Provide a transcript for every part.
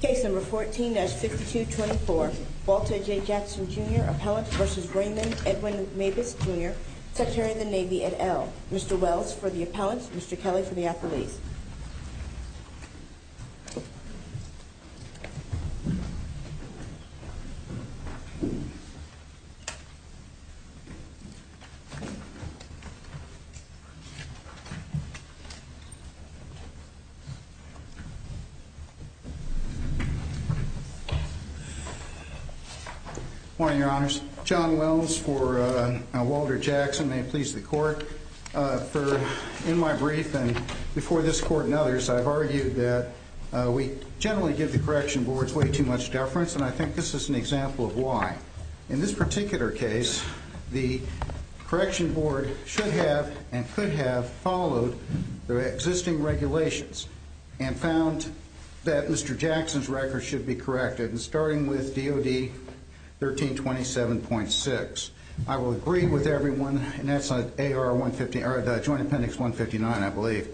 Case No. 14-5224, Walter J. Jackson, Jr., Appellant v. Raymond Edwin Mabus, Jr., Secretary of the Navy at Ell. Mr. Wells for the Appellants, Mr. Kelly for the Appellees. Good morning, Your Honors. John Wells for Walter Jackson, may it please the Court. In my brief and before this Court and others, I've argued that we generally give the Correction Boards way too much deference, and I think this is an example of why. In this particular case, the Correction Board should have and could have followed the existing regulations and found that Mr. Jackson's record should be corrected, starting with DOD 1327.6. I will agree with everyone, and that's on AR 150, or Joint Appendix 159, I believe.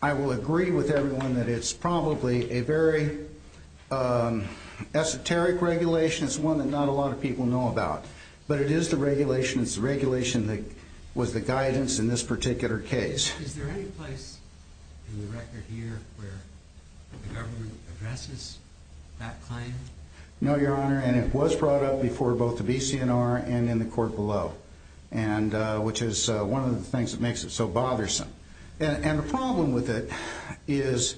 I will agree with everyone that it's probably a very esoteric regulation. It's one that not a lot of people know about, but it is the regulation. It's the regulation that was the guidance in this particular case. Is there any place in the record here where the government addresses that claim? No, Your Honor, and it was brought up before both the BCNR and in the Court below, which is one of the things that makes it so bothersome. The problem with it is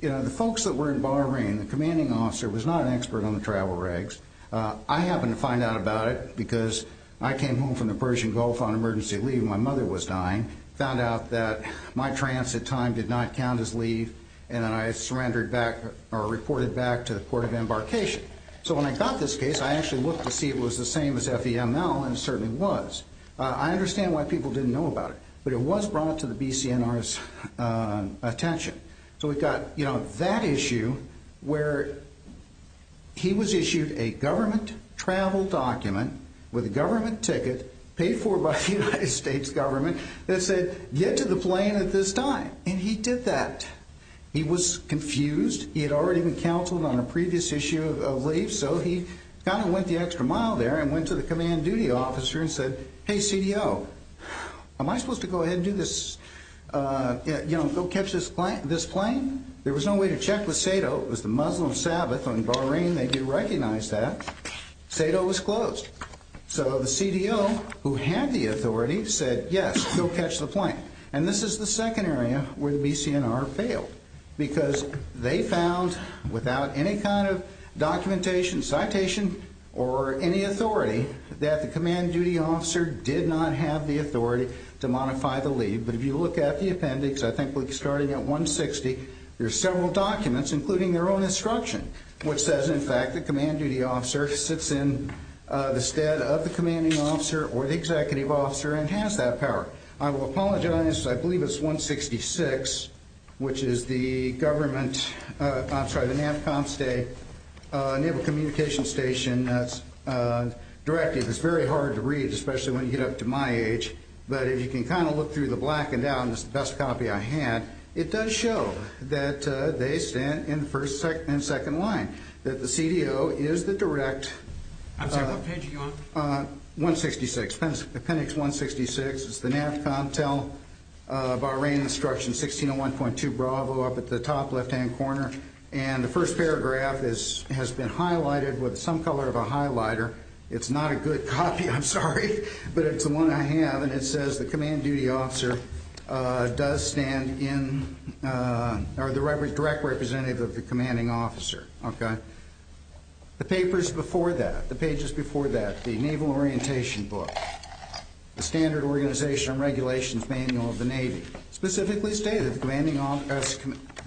the folks that were in Bahrain, the commanding officer was not an expert on the travel regs. I happened to find out about it because I came home from the Persian Gulf on emergency leave. My mother was dying, found out that my transit time did not count as leave, and then I surrendered back or reported back to the Court of Embarkation. So when I got this case, I actually looked to see if it was the same as FEML, and it certainly was. I understand why people didn't know about it, but it was brought to the BCNR's attention. So we've got that issue where he was issued a government travel document with a government ticket paid for by the United States government that said get to the plane at this time, and he did that. He was confused. He had already been counseled on a previous issue of leave, so he kind of went the extra mile there and went to the command duty officer and said, hey, CDO, am I supposed to go ahead and do this, you know, go catch this plane? There was no way to check with SADO. It was the Muslim Sabbath on Bahrain. They didn't recognize that. SADO was closed. So the CDO, who had the authority, said yes, go catch the plane. And this is the second area where the BCNR failed because they found, without any kind of documentation, citation, or any authority, that the command duty officer did not have the authority to modify the leave. But if you look at the appendix, I think we're starting at 160, there are several documents, including their own instruction, which says, in fact, the command duty officer sits in the stead of the commanding officer or the executive officer and has that power. I will apologize. I believe it's 166, which is the government, I'm sorry, the NAVCOMS, Naval Communication Station Directive. It's very hard to read, especially when you get up to my age. But if you can kind of look through the black and down, it's the best copy I had. It does show that they stand in second line, that the CDO is the direct. I'm sorry, what page are you on? 166, appendix 166. It's the NAVCOMS tell Bahrain instruction 1601.2 Bravo up at the top left-hand corner. And the first paragraph has been highlighted with some color of a highlighter. It's not a good copy, I'm sorry, but it's the one I have. And it says the command duty officer does stand in, or the direct representative of the commanding officer. The papers before that, the pages before that, the Naval Orientation Book, the Standard Organization and Regulations Manual of the Navy, specifically stated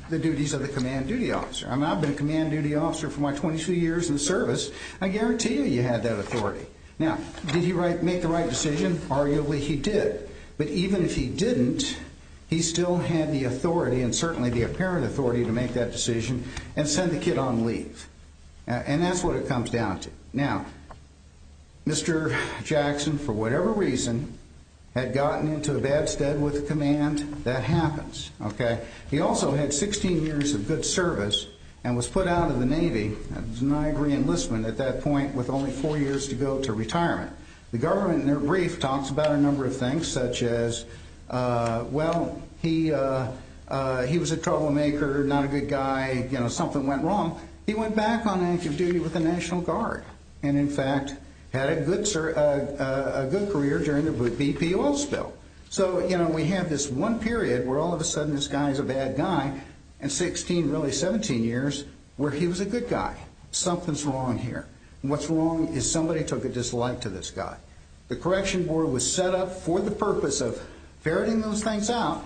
the duties of the command duty officer. I've been a command duty officer for my 22 years in the service. I guarantee you you had that authority. Now, did he make the right decision? Arguably he did. But even if he didn't, he still had the authority, and certainly the apparent authority, to make that decision and send the kid on leave. And that's what it comes down to. Now, Mr. Jackson, for whatever reason, had gotten into a bad stead with the command. That happens, okay? He also had 16 years of good service and was put out of the Navy, as an I agree enlistment at that point, with only four years to go to retirement. The government, in their brief, talks about a number of things such as, well, he was a troublemaker, not a good guy, you know, something went wrong. He went back on active duty with the National Guard and, in fact, had a good career during the BP oil spill. So, you know, we have this one period where all of a sudden this guy is a bad guy, and 16, really 17 years, where he was a good guy. Something's wrong here. What's wrong is somebody took a dislike to this guy. The correction board was set up for the purpose of ferreting those things out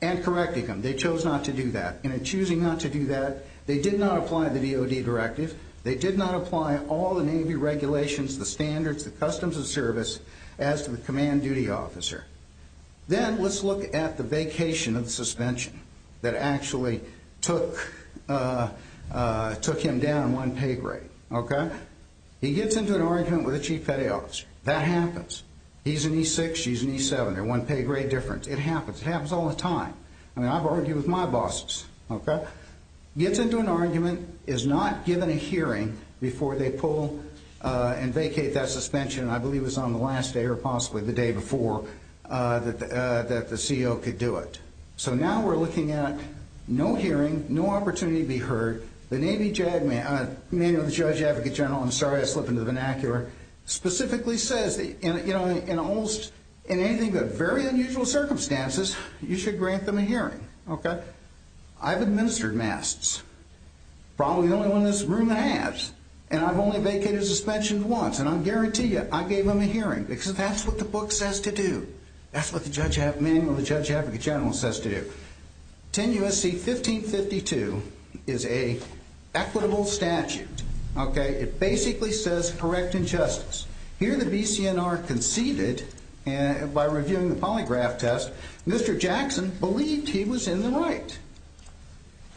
and correcting them. They chose not to do that. In choosing not to do that, they did not apply the DOD directive. They did not apply all the Navy regulations, the standards, the customs of service, as to the command duty officer. Then let's look at the vacation of suspension that actually took him down one pay grade, okay? He gets into an argument with the chief petty officer. That happens. He's an E6, she's an E7, they're one pay grade difference. It happens. It happens all the time. I mean, I've argued with my bosses, okay? Gets into an argument, is not given a hearing before they pull and vacate that suspension, and I believe it was on the last day or possibly the day before that the CO could do it. So now we're looking at no hearing, no opportunity to be heard. The Navy manual of the judge advocate general, I'm sorry I slipped into the vernacular, specifically says that in almost anything but very unusual circumstances, you should grant them a hearing, okay? I've administered MASTS, probably the only one in this room that has, and I've only vacated suspension once, and I guarantee you I gave them a hearing because that's what the book says to do. That's what the manual of the judge advocate general says to do. 10 U.S.C. 1552 is an equitable statute, okay? It basically says correct injustice. Here the BCNR conceded by reviewing the polygraph test, Mr. Jackson believed he was in the right.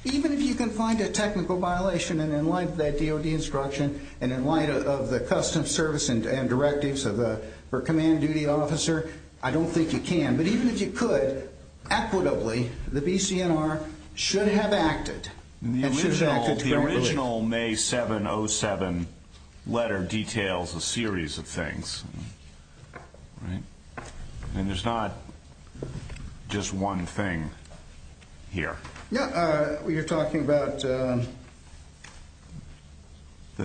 Even if you can find a technical violation, and in light of that DOD instruction and in light of the custom service and directives for a command duty officer, I don't think you can. But even if you could, equitably, the BCNR should have acted. The original May 7, 07 letter details a series of things. And there's not just one thing here. Yeah, you're talking about the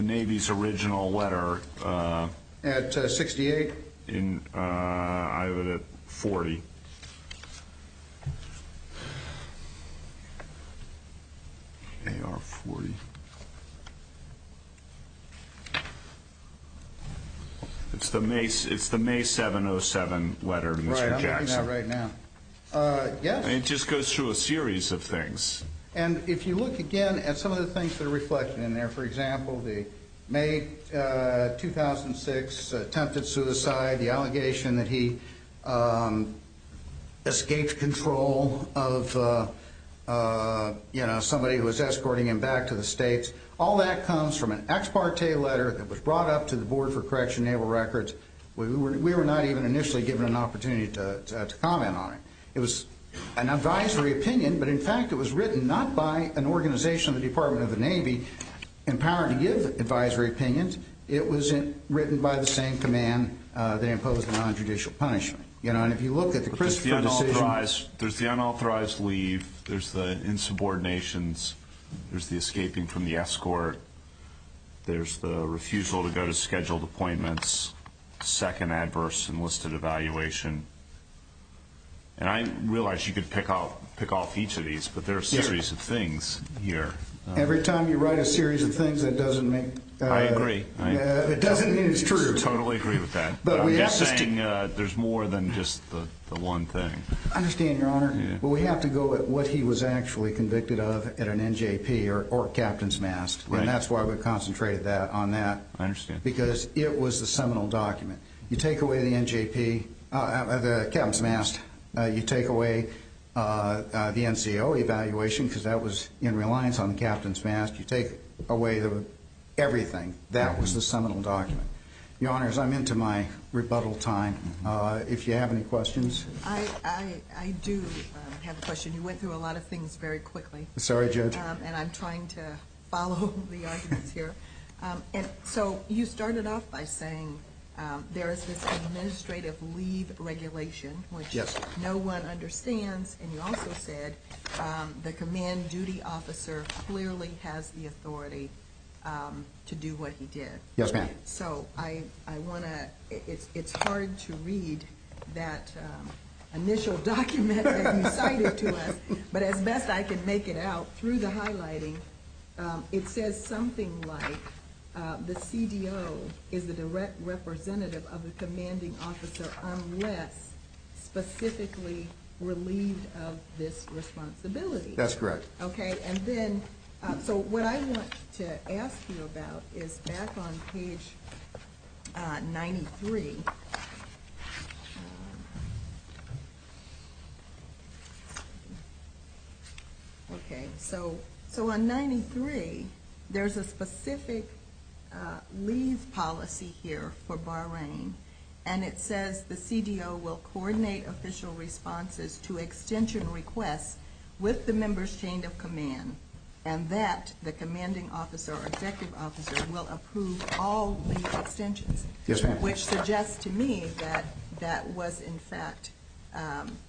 Navy's original letter. At 68? I have it at 40. AR 40. It's the May 7, 07 letter, Mr. Jackson. Right, I'm looking at it right now. It just goes through a series of things. And if you look again at some of the things that are reflected in there, for example, the May 2006 attempted suicide, the allegation that he escaped control of, you know, somebody who was escorting him back to the States, all that comes from an ex parte letter that was brought up to the Board for Correction Naval Records. We were not even initially given an opportunity to comment on it. It was an advisory opinion. But, in fact, it was written not by an organization of the Department of the Navy empowered to give advisory opinions. It was written by the same command that imposed the non-judicial punishment. You know, and if you look at the Christopher decision. There's the unauthorized leave. There's the insubordinations. There's the escaping from the escort. There's the refusal to go to scheduled appointments. There's the second adverse enlisted evaluation. And I realize you could pick off each of these, but there are a series of things here. Every time you write a series of things, that doesn't mean it's true. I totally agree with that. But I'm just saying there's more than just the one thing. I understand, Your Honor. But we have to go at what he was actually convicted of at an NJP or captain's mast. And that's why we concentrated on that. I understand. Because it was the seminal document. You take away the NJP, the captain's mast. You take away the NCO evaluation because that was in reliance on the captain's mast. You take away everything. That was the seminal document. Your Honors, I'm into my rebuttal time. If you have any questions. I do have a question. You went through a lot of things very quickly. Sorry, Judge. And I'm trying to follow the arguments here. So you started off by saying there is this administrative leave regulation, which no one understands. And you also said the command duty officer clearly has the authority to do what he did. Yes, ma'am. So it's hard to read that initial document that you cited to us. But as best I can make it out through the highlighting, it says something like the CDO is the direct representative of the commanding officer unless specifically relieved of this responsibility. That's correct. Okay. So what I want to ask you about is back on page 93. Okay. So on 93, there's a specific leave policy here for Bahrain. And it says the CDO will coordinate official responses to extension requests with the member's chain of command. And that the commanding officer or executive officer will approve all leave extensions. Yes, ma'am. Which suggests to me that that was, in fact,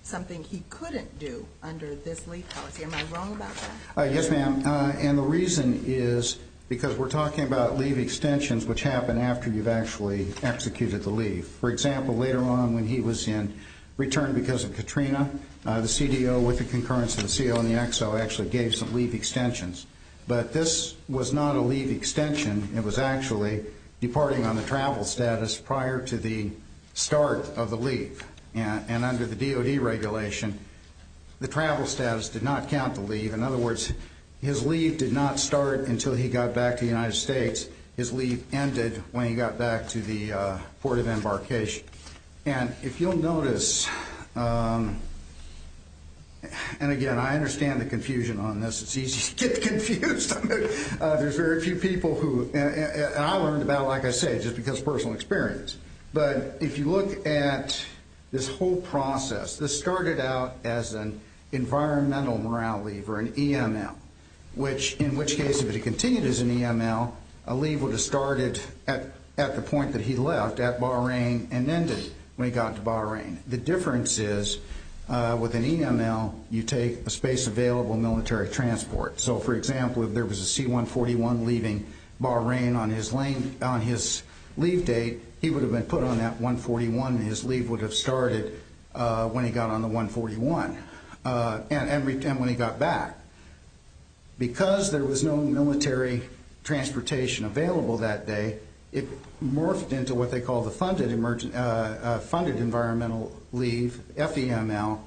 something he couldn't do under this leave policy. Am I wrong about that? Yes, ma'am. And the reason is because we're talking about leave extensions which happen after you've actually executed the leave. For example, later on when he was in return because of Katrina, the CDO with the concurrence of the CO and the XO actually gave some leave extensions. But this was not a leave extension. It was actually departing on the travel status prior to the start of the leave. And under the DOD regulation, the travel status did not count the leave. In other words, his leave did not start until he got back to the United States. His leave ended when he got back to the port of embarkation. And if you'll notice, and, again, I understand the confusion on this. It's easy to get confused. There's very few people who, and I learned about it, like I said, just because of personal experience. But if you look at this whole process, this started out as an environmental morale leave or an EML, in which case if it had continued as an EML, a leave would have started at the point that he left at Bahrain and ended when he got to Bahrain. The difference is with an EML, you take a space available military transport. So, for example, if there was a C-141 leaving Bahrain on his leave date, he would have been put on that 141, and his leave would have started when he got on the 141 and when he got back. Because there was no military transportation available that day, it morphed into what they call the funded environmental leave, FEML,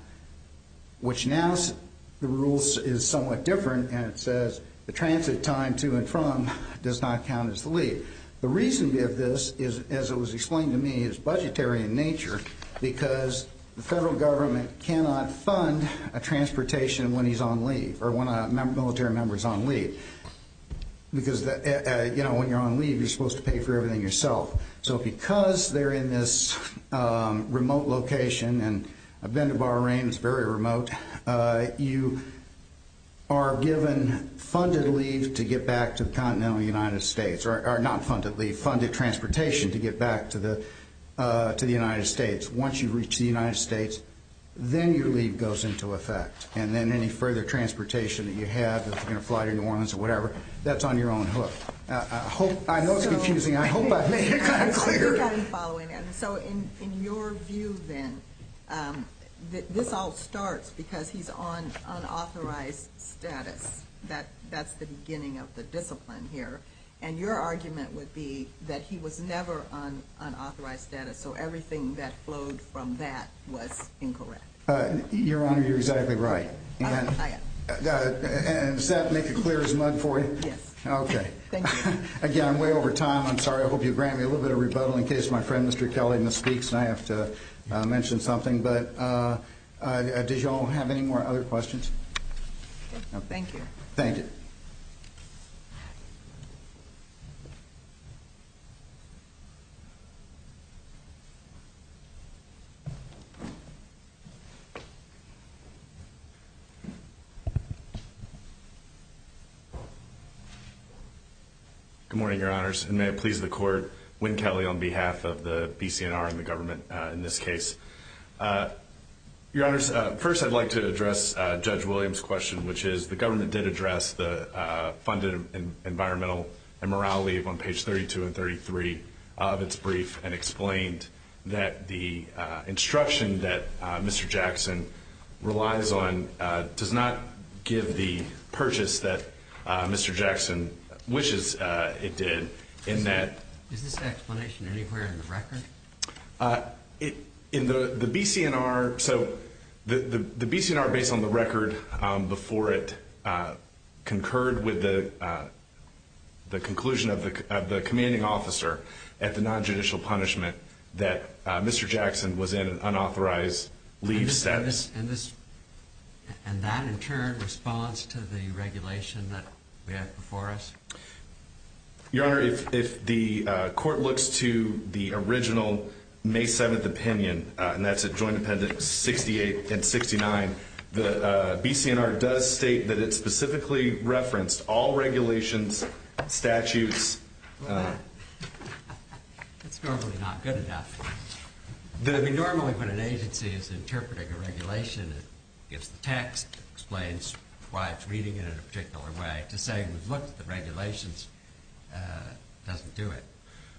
which now the rules is somewhat different, and it says the transit time to and from does not count as the leave. The reason we have this is, as it was explained to me, is budgetary in nature because the federal government cannot fund a transportation when he's on leave or when a military member is on leave. Because when you're on leave, you're supposed to pay for everything yourself. So because they're in this remote location, and I've been to Bahrain, it's very remote, you are given funded leave to get back to the continental United States, or not funded leave, funded transportation to get back to the United States. Once you reach the United States, then your leave goes into effect, and then any further transportation that you have that's going to fly to New Orleans or whatever, that's on your own hook. I know it's confusing. I hope I made it kind of clear. I think I'm following that. So in your view, then, this all starts because he's on unauthorized status. That's the beginning of the discipline here. And your argument would be that he was never on unauthorized status, so everything that flowed from that was incorrect. Your Honor, you're exactly right. I am. And does that make it clear as mud for you? Yes. Okay. Thank you. Again, I'm way over time. I'm sorry. I hope you grant me a little bit of rebuttal in case my friend Mr. Kelly misspeaks and I have to mention something. But did you all have any more other questions? No. Thank you. Thank you. Good morning, Your Honors. And may it please the Court, Wynn Kelly on behalf of the BCNR and the government in this case. Your Honors, first I'd like to address Judge Williams' question, which is the government did address the funded environmental and morale leave on page 32 and 33 of its brief and explained that the instruction that Mr. Jackson relies on does not give the purchase that Mr. Jackson wishes it did in that. Is this explanation anywhere in the record? In the BCNR, so the BCNR, based on the record before it, concurred with the conclusion of the commanding officer at the nonjudicial punishment that Mr. Jackson was in unauthorized leave status. And that, in turn, responds to the regulation that we have before us? Your Honor, if the Court looks to the original May 7th opinion, and that's at Joint Appendix 68 and 69, the BCNR does state that it specifically referenced all regulations, statutes. That's normally not good enough. Normally when an agency is interpreting a regulation, it gets the text, explains why it's reading it in a particular way to say, look, the regulations doesn't do it.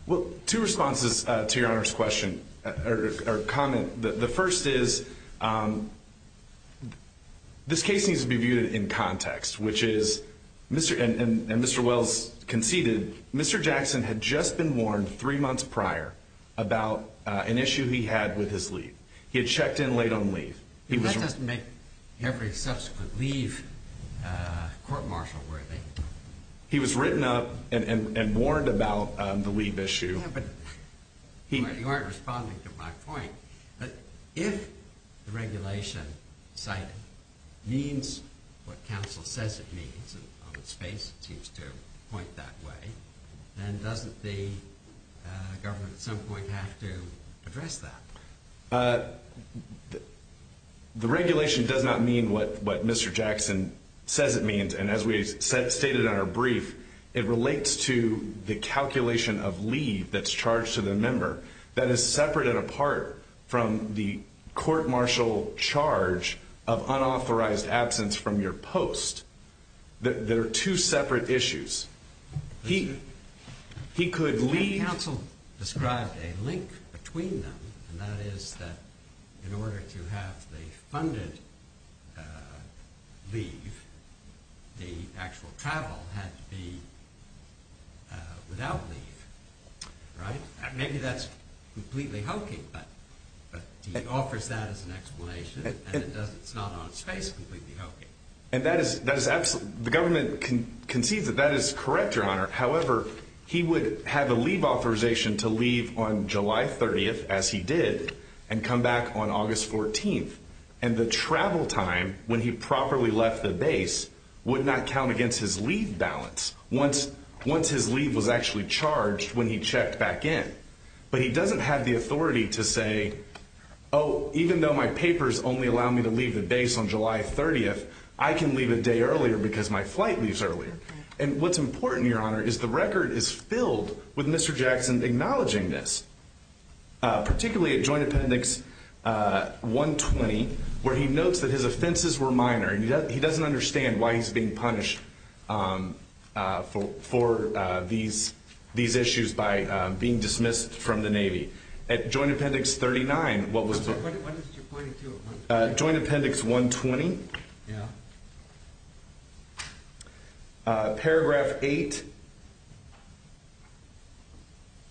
Well, two responses to Your Honor's question or comment. The first is this case needs to be viewed in context, which is, and Mr. Wells conceded, Mr. Jackson had just been warned three months prior about an issue he had with his leave. He had checked in late on leave. That doesn't make every subsequent leave court-martial worthy. He was written up and warned about the leave issue. You aren't responding to my point. But if the regulation cited means what counsel says it means, and on its face it seems to point that way, then doesn't the government at some point have to address that? The regulation does not mean what Mr. Jackson says it means. And as we stated in our brief, it relates to the calculation of leave that's charged to the member. That is separate and apart from the court-martial charge of unauthorized absence from your post. There are two separate issues. He could leave. Counsel described a link between them, and that is that in order to have the funded leave, the actual travel had to be without leave, right? Maybe that's completely hokey, but he offers that as an explanation, and it's not on its face completely hokey. The government concedes that that is correct, Your Honor. However, he would have a leave authorization to leave on July 30th, as he did, and come back on August 14th. And the travel time when he properly left the base would not count against his leave balance, once his leave was actually charged when he checked back in. But he doesn't have the authority to say, oh, even though my papers only allow me to leave the base on July 30th, I can leave a day earlier because my flight leaves earlier. And what's important, Your Honor, is the record is filled with Mr. Jackson acknowledging this, particularly at Joint Appendix 120, where he notes that his offenses were minor. And he doesn't understand why he's being punished for these issues by being dismissed from the Navy. At Joint Appendix 39, what was the— What is it you're pointing to? Joint Appendix 120? Yeah. Paragraph 8,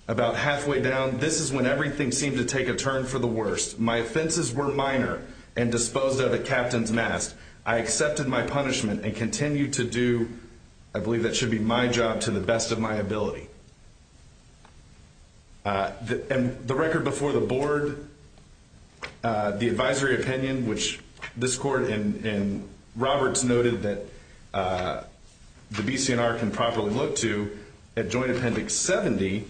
about halfway down, this is when everything seemed to take a turn for the worst. My offenses were minor and disposed of at captain's mast. I accepted my punishment and continue to do, I believe that should be my job to the best of my ability. And the record before the board, the advisory opinion, which this court and Roberts noted that the BC&R can properly look to, at Joint Appendix 70,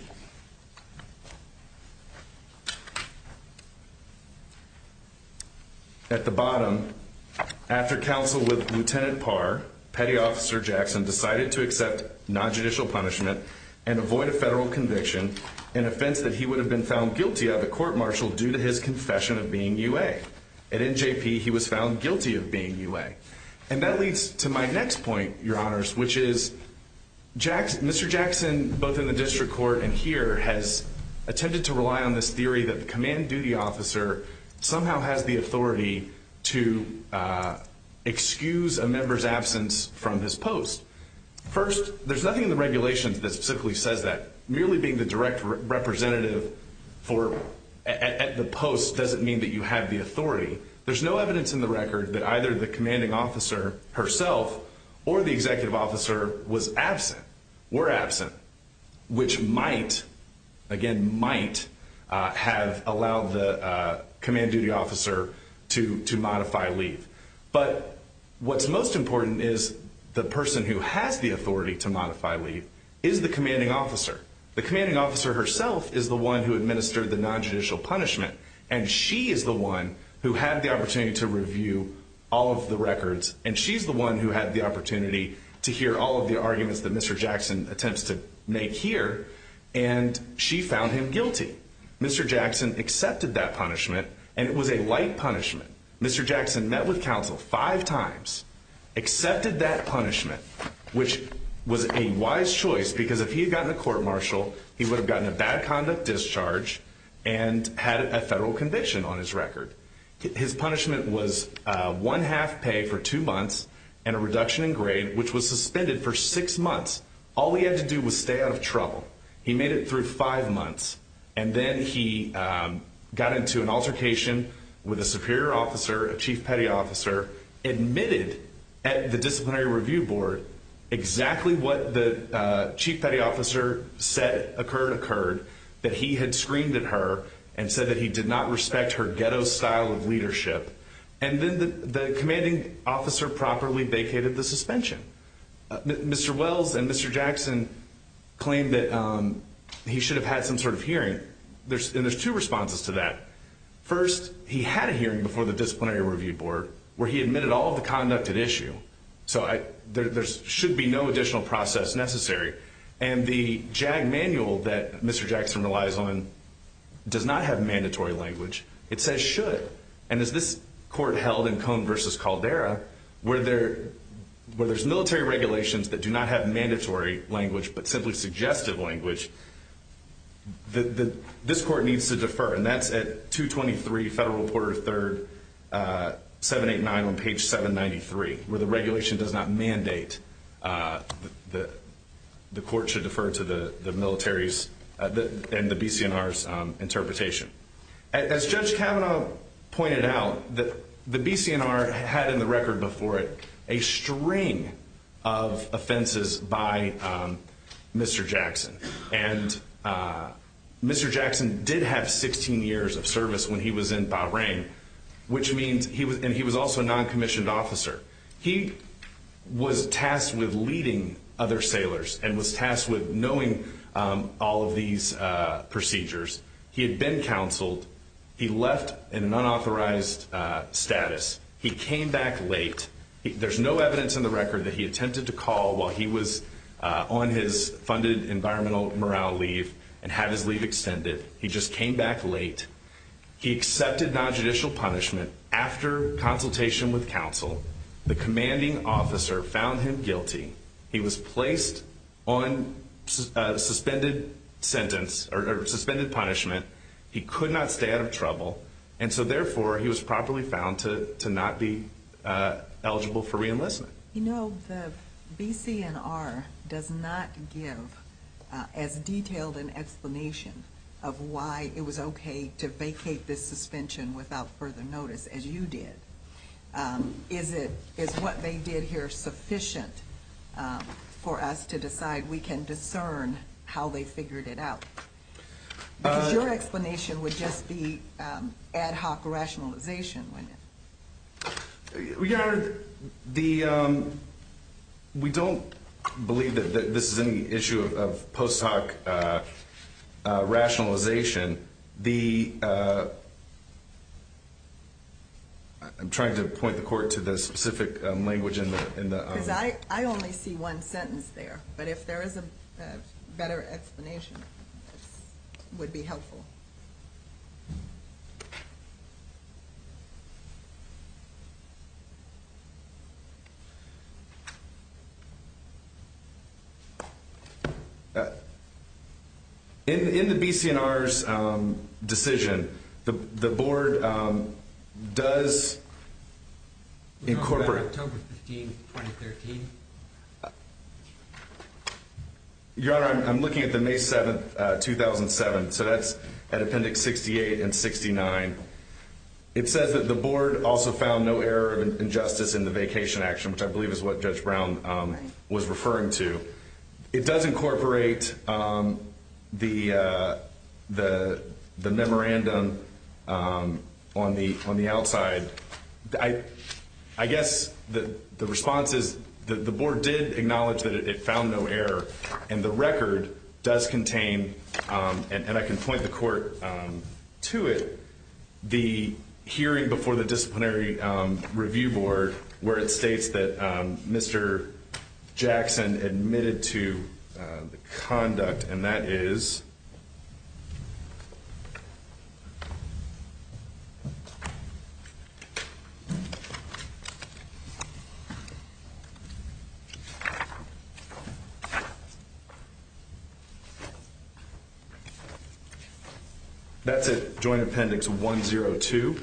at the bottom, after counsel with Lieutenant Parr, Petty Officer Jackson decided to accept nonjudicial punishment and avoid a federal conviction, an offense that he would have been found guilty of at court-martial due to his confession of being UA. At NJP, he was found guilty of being UA. And that leads to my next point, Your Honors, which is Mr. Jackson, both in the district court and here, has attempted to rely on this theory that the command duty officer somehow has the authority to excuse a member's absence from his post. First, there's nothing in the regulations that specifically says that. Merely being the direct representative at the post doesn't mean that you have the authority. There's no evidence in the record that either the commanding officer herself or the executive officer was absent, were absent, which might, again, might have allowed the command duty officer to modify leave. But what's most important is the person who has the authority to modify leave is the commanding officer. The commanding officer herself is the one who administered the nonjudicial punishment, and she is the one who had the opportunity to review all of the records, and she's the one who had the opportunity to hear all of the arguments that Mr. Jackson attempts to make here, and she found him guilty. Mr. Jackson accepted that punishment, and it was a light punishment. Mr. Jackson met with counsel five times, accepted that punishment, which was a wise choice because if he had gotten a court-martial, he would have gotten a bad conduct discharge and had a federal conviction on his record. His punishment was one half pay for two months and a reduction in grade, which was suspended for six months. All he had to do was stay out of trouble. He made it through five months, and then he got into an altercation with a superior officer, a chief petty officer, admitted at the disciplinary review board exactly what the chief petty officer said occurred, that he had screamed at her and said that he did not respect her ghetto style of leadership, and then the commanding officer properly vacated the suspension. Mr. Wells and Mr. Jackson claimed that he should have had some sort of hearing, and there's two responses to that. First, he had a hearing before the disciplinary review board where he admitted all of the conduct at issue, so there should be no additional process necessary, and the JAG manual that Mr. Jackson relies on does not have mandatory language. It says should, and as this court held in Cone v. Caldera, where there's military regulations that do not have mandatory language but simply suggested language, this court needs to defer, and that's at 223 Federal Reporter 3rd, 789 on page 793, where the regulation does not mandate that the court should defer to the military's and the BC&R's interpretation. As Judge Kavanaugh pointed out, the BC&R had in the record before it a string of offenses by Mr. Jackson, and Mr. Jackson did have 16 years of service when he was in Bahrain, and he was also a noncommissioned officer. He was tasked with leading other sailors and was tasked with knowing all of these procedures. He had been counseled. He left in unauthorized status. He came back late. There's no evidence in the record that he attempted to call while he was on his funded environmental morale leave and had his leave extended. He just came back late. He accepted nonjudicial punishment after consultation with counsel. The commanding officer found him guilty. He was placed on suspended punishment. He could not stay out of trouble, and so therefore he was properly found to not be eligible for reenlistment. You know, the BC&R does not give as detailed an explanation of why it was okay to vacate this suspension without further notice as you did. Is what they did here sufficient for us to decide we can discern how they figured it out? Because your explanation would just be ad hoc rationalization. Your Honor, we don't believe that this is any issue of post hoc rationalization. I'm trying to point the court to the specific language in the argument. I only see one sentence there, but if there is a better explanation, it would be helpful. In the BC&R's decision, the board does incorporate... October 15th, 2013. Your Honor, I'm looking at the May 7th, 2007, so that's at Appendix 68 and 69. The board also found no error of injustice in the vacation action, which I believe is what Judge Brown was referring to. It does incorporate the memorandum on the outside. I guess the response is the board did acknowledge that it found no error, and the record does contain, and I can point the court to it, the hearing before the Disciplinary Review Board where it states that Mr. Jackson admitted to the conduct, and that is... That's at Joint Appendix 102.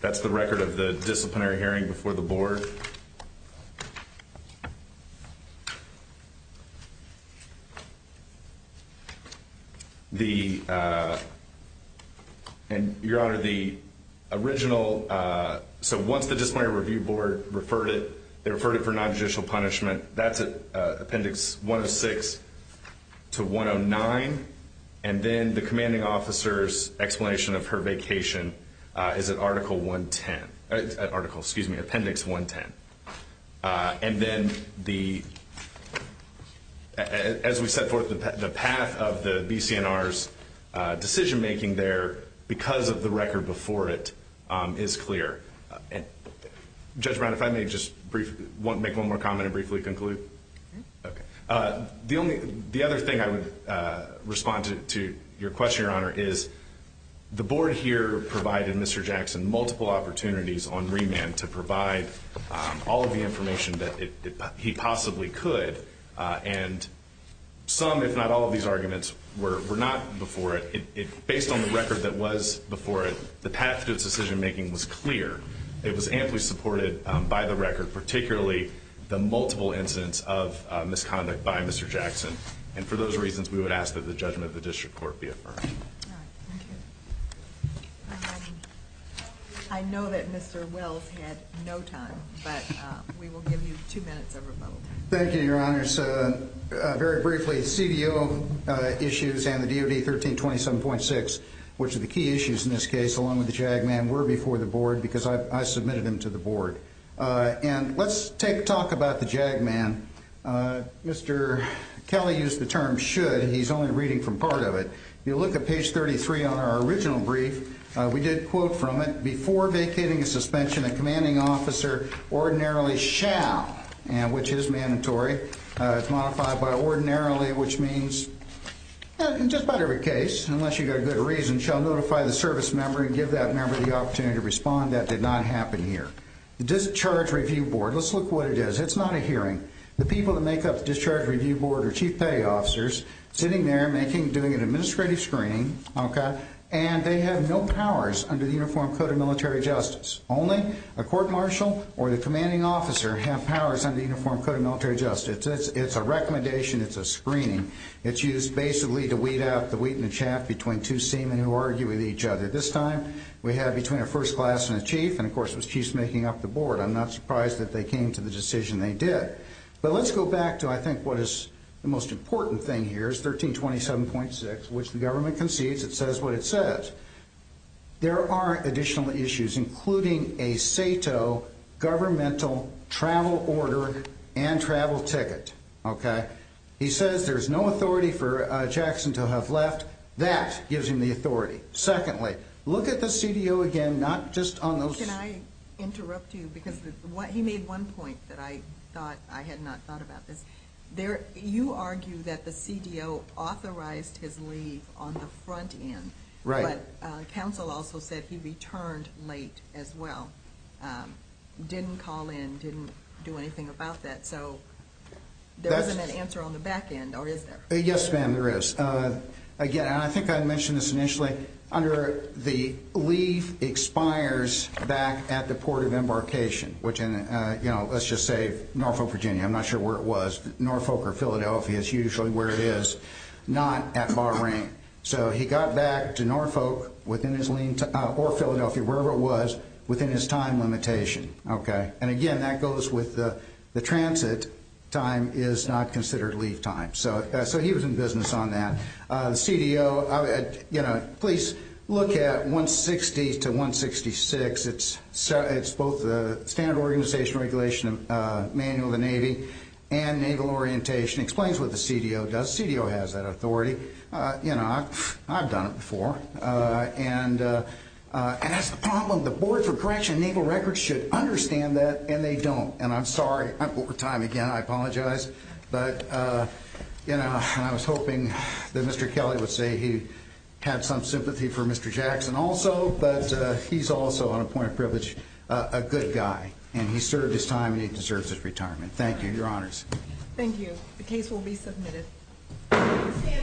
That's the record of the disciplinary hearing before the board. Your Honor, the original... Once the Disciplinary Review Board referred it, they referred it for nonjudicial punishment. That's at Appendix 106 to 109, and then the commanding officer's explanation of her vacation is at Article 110... Excuse me, Appendix 110. As we set forth the path of the BC&R's decision-making there, because of the record before it, it's clear. Judge Brown, if I may just make one more comment and briefly conclude? Okay. The other thing I would respond to your question, Your Honor, is the board here provided Mr. Jackson multiple opportunities on remand to provide all of the information that he possibly could, and some, if not all, of these arguments were not before it. It was amply supported by the record, particularly the multiple incidents of misconduct by Mr. Jackson, and for those reasons, we would ask that the judgment of the district court be affirmed. All right. Thank you. I know that Mr. Wells had no time, but we will give you two minutes of remote time. Thank you, Your Honor. Very briefly, CDO issues and the DoD 1327.6, which are the key issues in this case, along with the JAG man, were before the board because I submitted them to the board. And let's talk about the JAG man. Mr. Kelly used the term should, and he's only reading from part of it. If you look at page 33 on our original brief, we did quote from it, Before vacating a suspension, a commanding officer ordinarily shall, which is mandatory. It's modified by ordinarily, which means in just about every case, unless you've got a good reason, shall notify the service member and give that member the opportunity to respond. That did not happen here. The Discharge Review Board, let's look at what it is. It's not a hearing. The people that make up the Discharge Review Board are chief pay officers sitting there doing an administrative screening, and they have no powers under the Uniform Code of Military Justice. Only a court martial or the commanding officer have powers under the Uniform Code of Military Justice. It's a recommendation. It's a screening. It's used basically to weed out the wheat in the chaff between two seamen who argue with each other. This time we have between a first class and a chief, and, of course, it was chiefs making up the board. I'm not surprised that they came to the decision they did. But let's go back to, I think, what is the most important thing here is 1327.6, which the government concedes. It says what it says. There are additional issues, including a SATO governmental travel order and travel ticket. He says there's no authority for Jackson to have left. That gives him the authority. Secondly, look at the CDO again, not just on those. Can I interrupt you? Because he made one point that I had not thought about this. You argue that the CDO authorized his leave on the front end. Right. But counsel also said he returned late as well, didn't call in, didn't do anything about that. So there isn't an answer on the back end, or is there? Yes, ma'am, there is. Again, and I think I mentioned this initially, under the leave expires back at the port of embarkation, which in, you know, let's just say Norfolk, Virginia. I'm not sure where it was. Norfolk or Philadelphia is usually where it is, not at Bahrain. So he got back to Norfolk or Philadelphia, wherever it was, within his time limitation. Okay. And, again, that goes with the transit time is not considered leave time. So he was in business on that. The CDO, you know, please look at 160 to 166. It's both the standard organization regulation manual of the Navy and naval orientation. It explains what the CDO does. The CDO has that authority. You know, I've done it before. And that's the problem. The Board for Corrections and Naval Records should understand that, and they don't. And I'm sorry. I'm over time again. I apologize. But, you know, I was hoping that Mr. Kelly would say he had some sympathy for Mr. Jackson also. But he's also, on a point of privilege, a good guy. And he served his time, and he deserves his retirement. Thank you. Your honors. Thank you. The case will be submitted.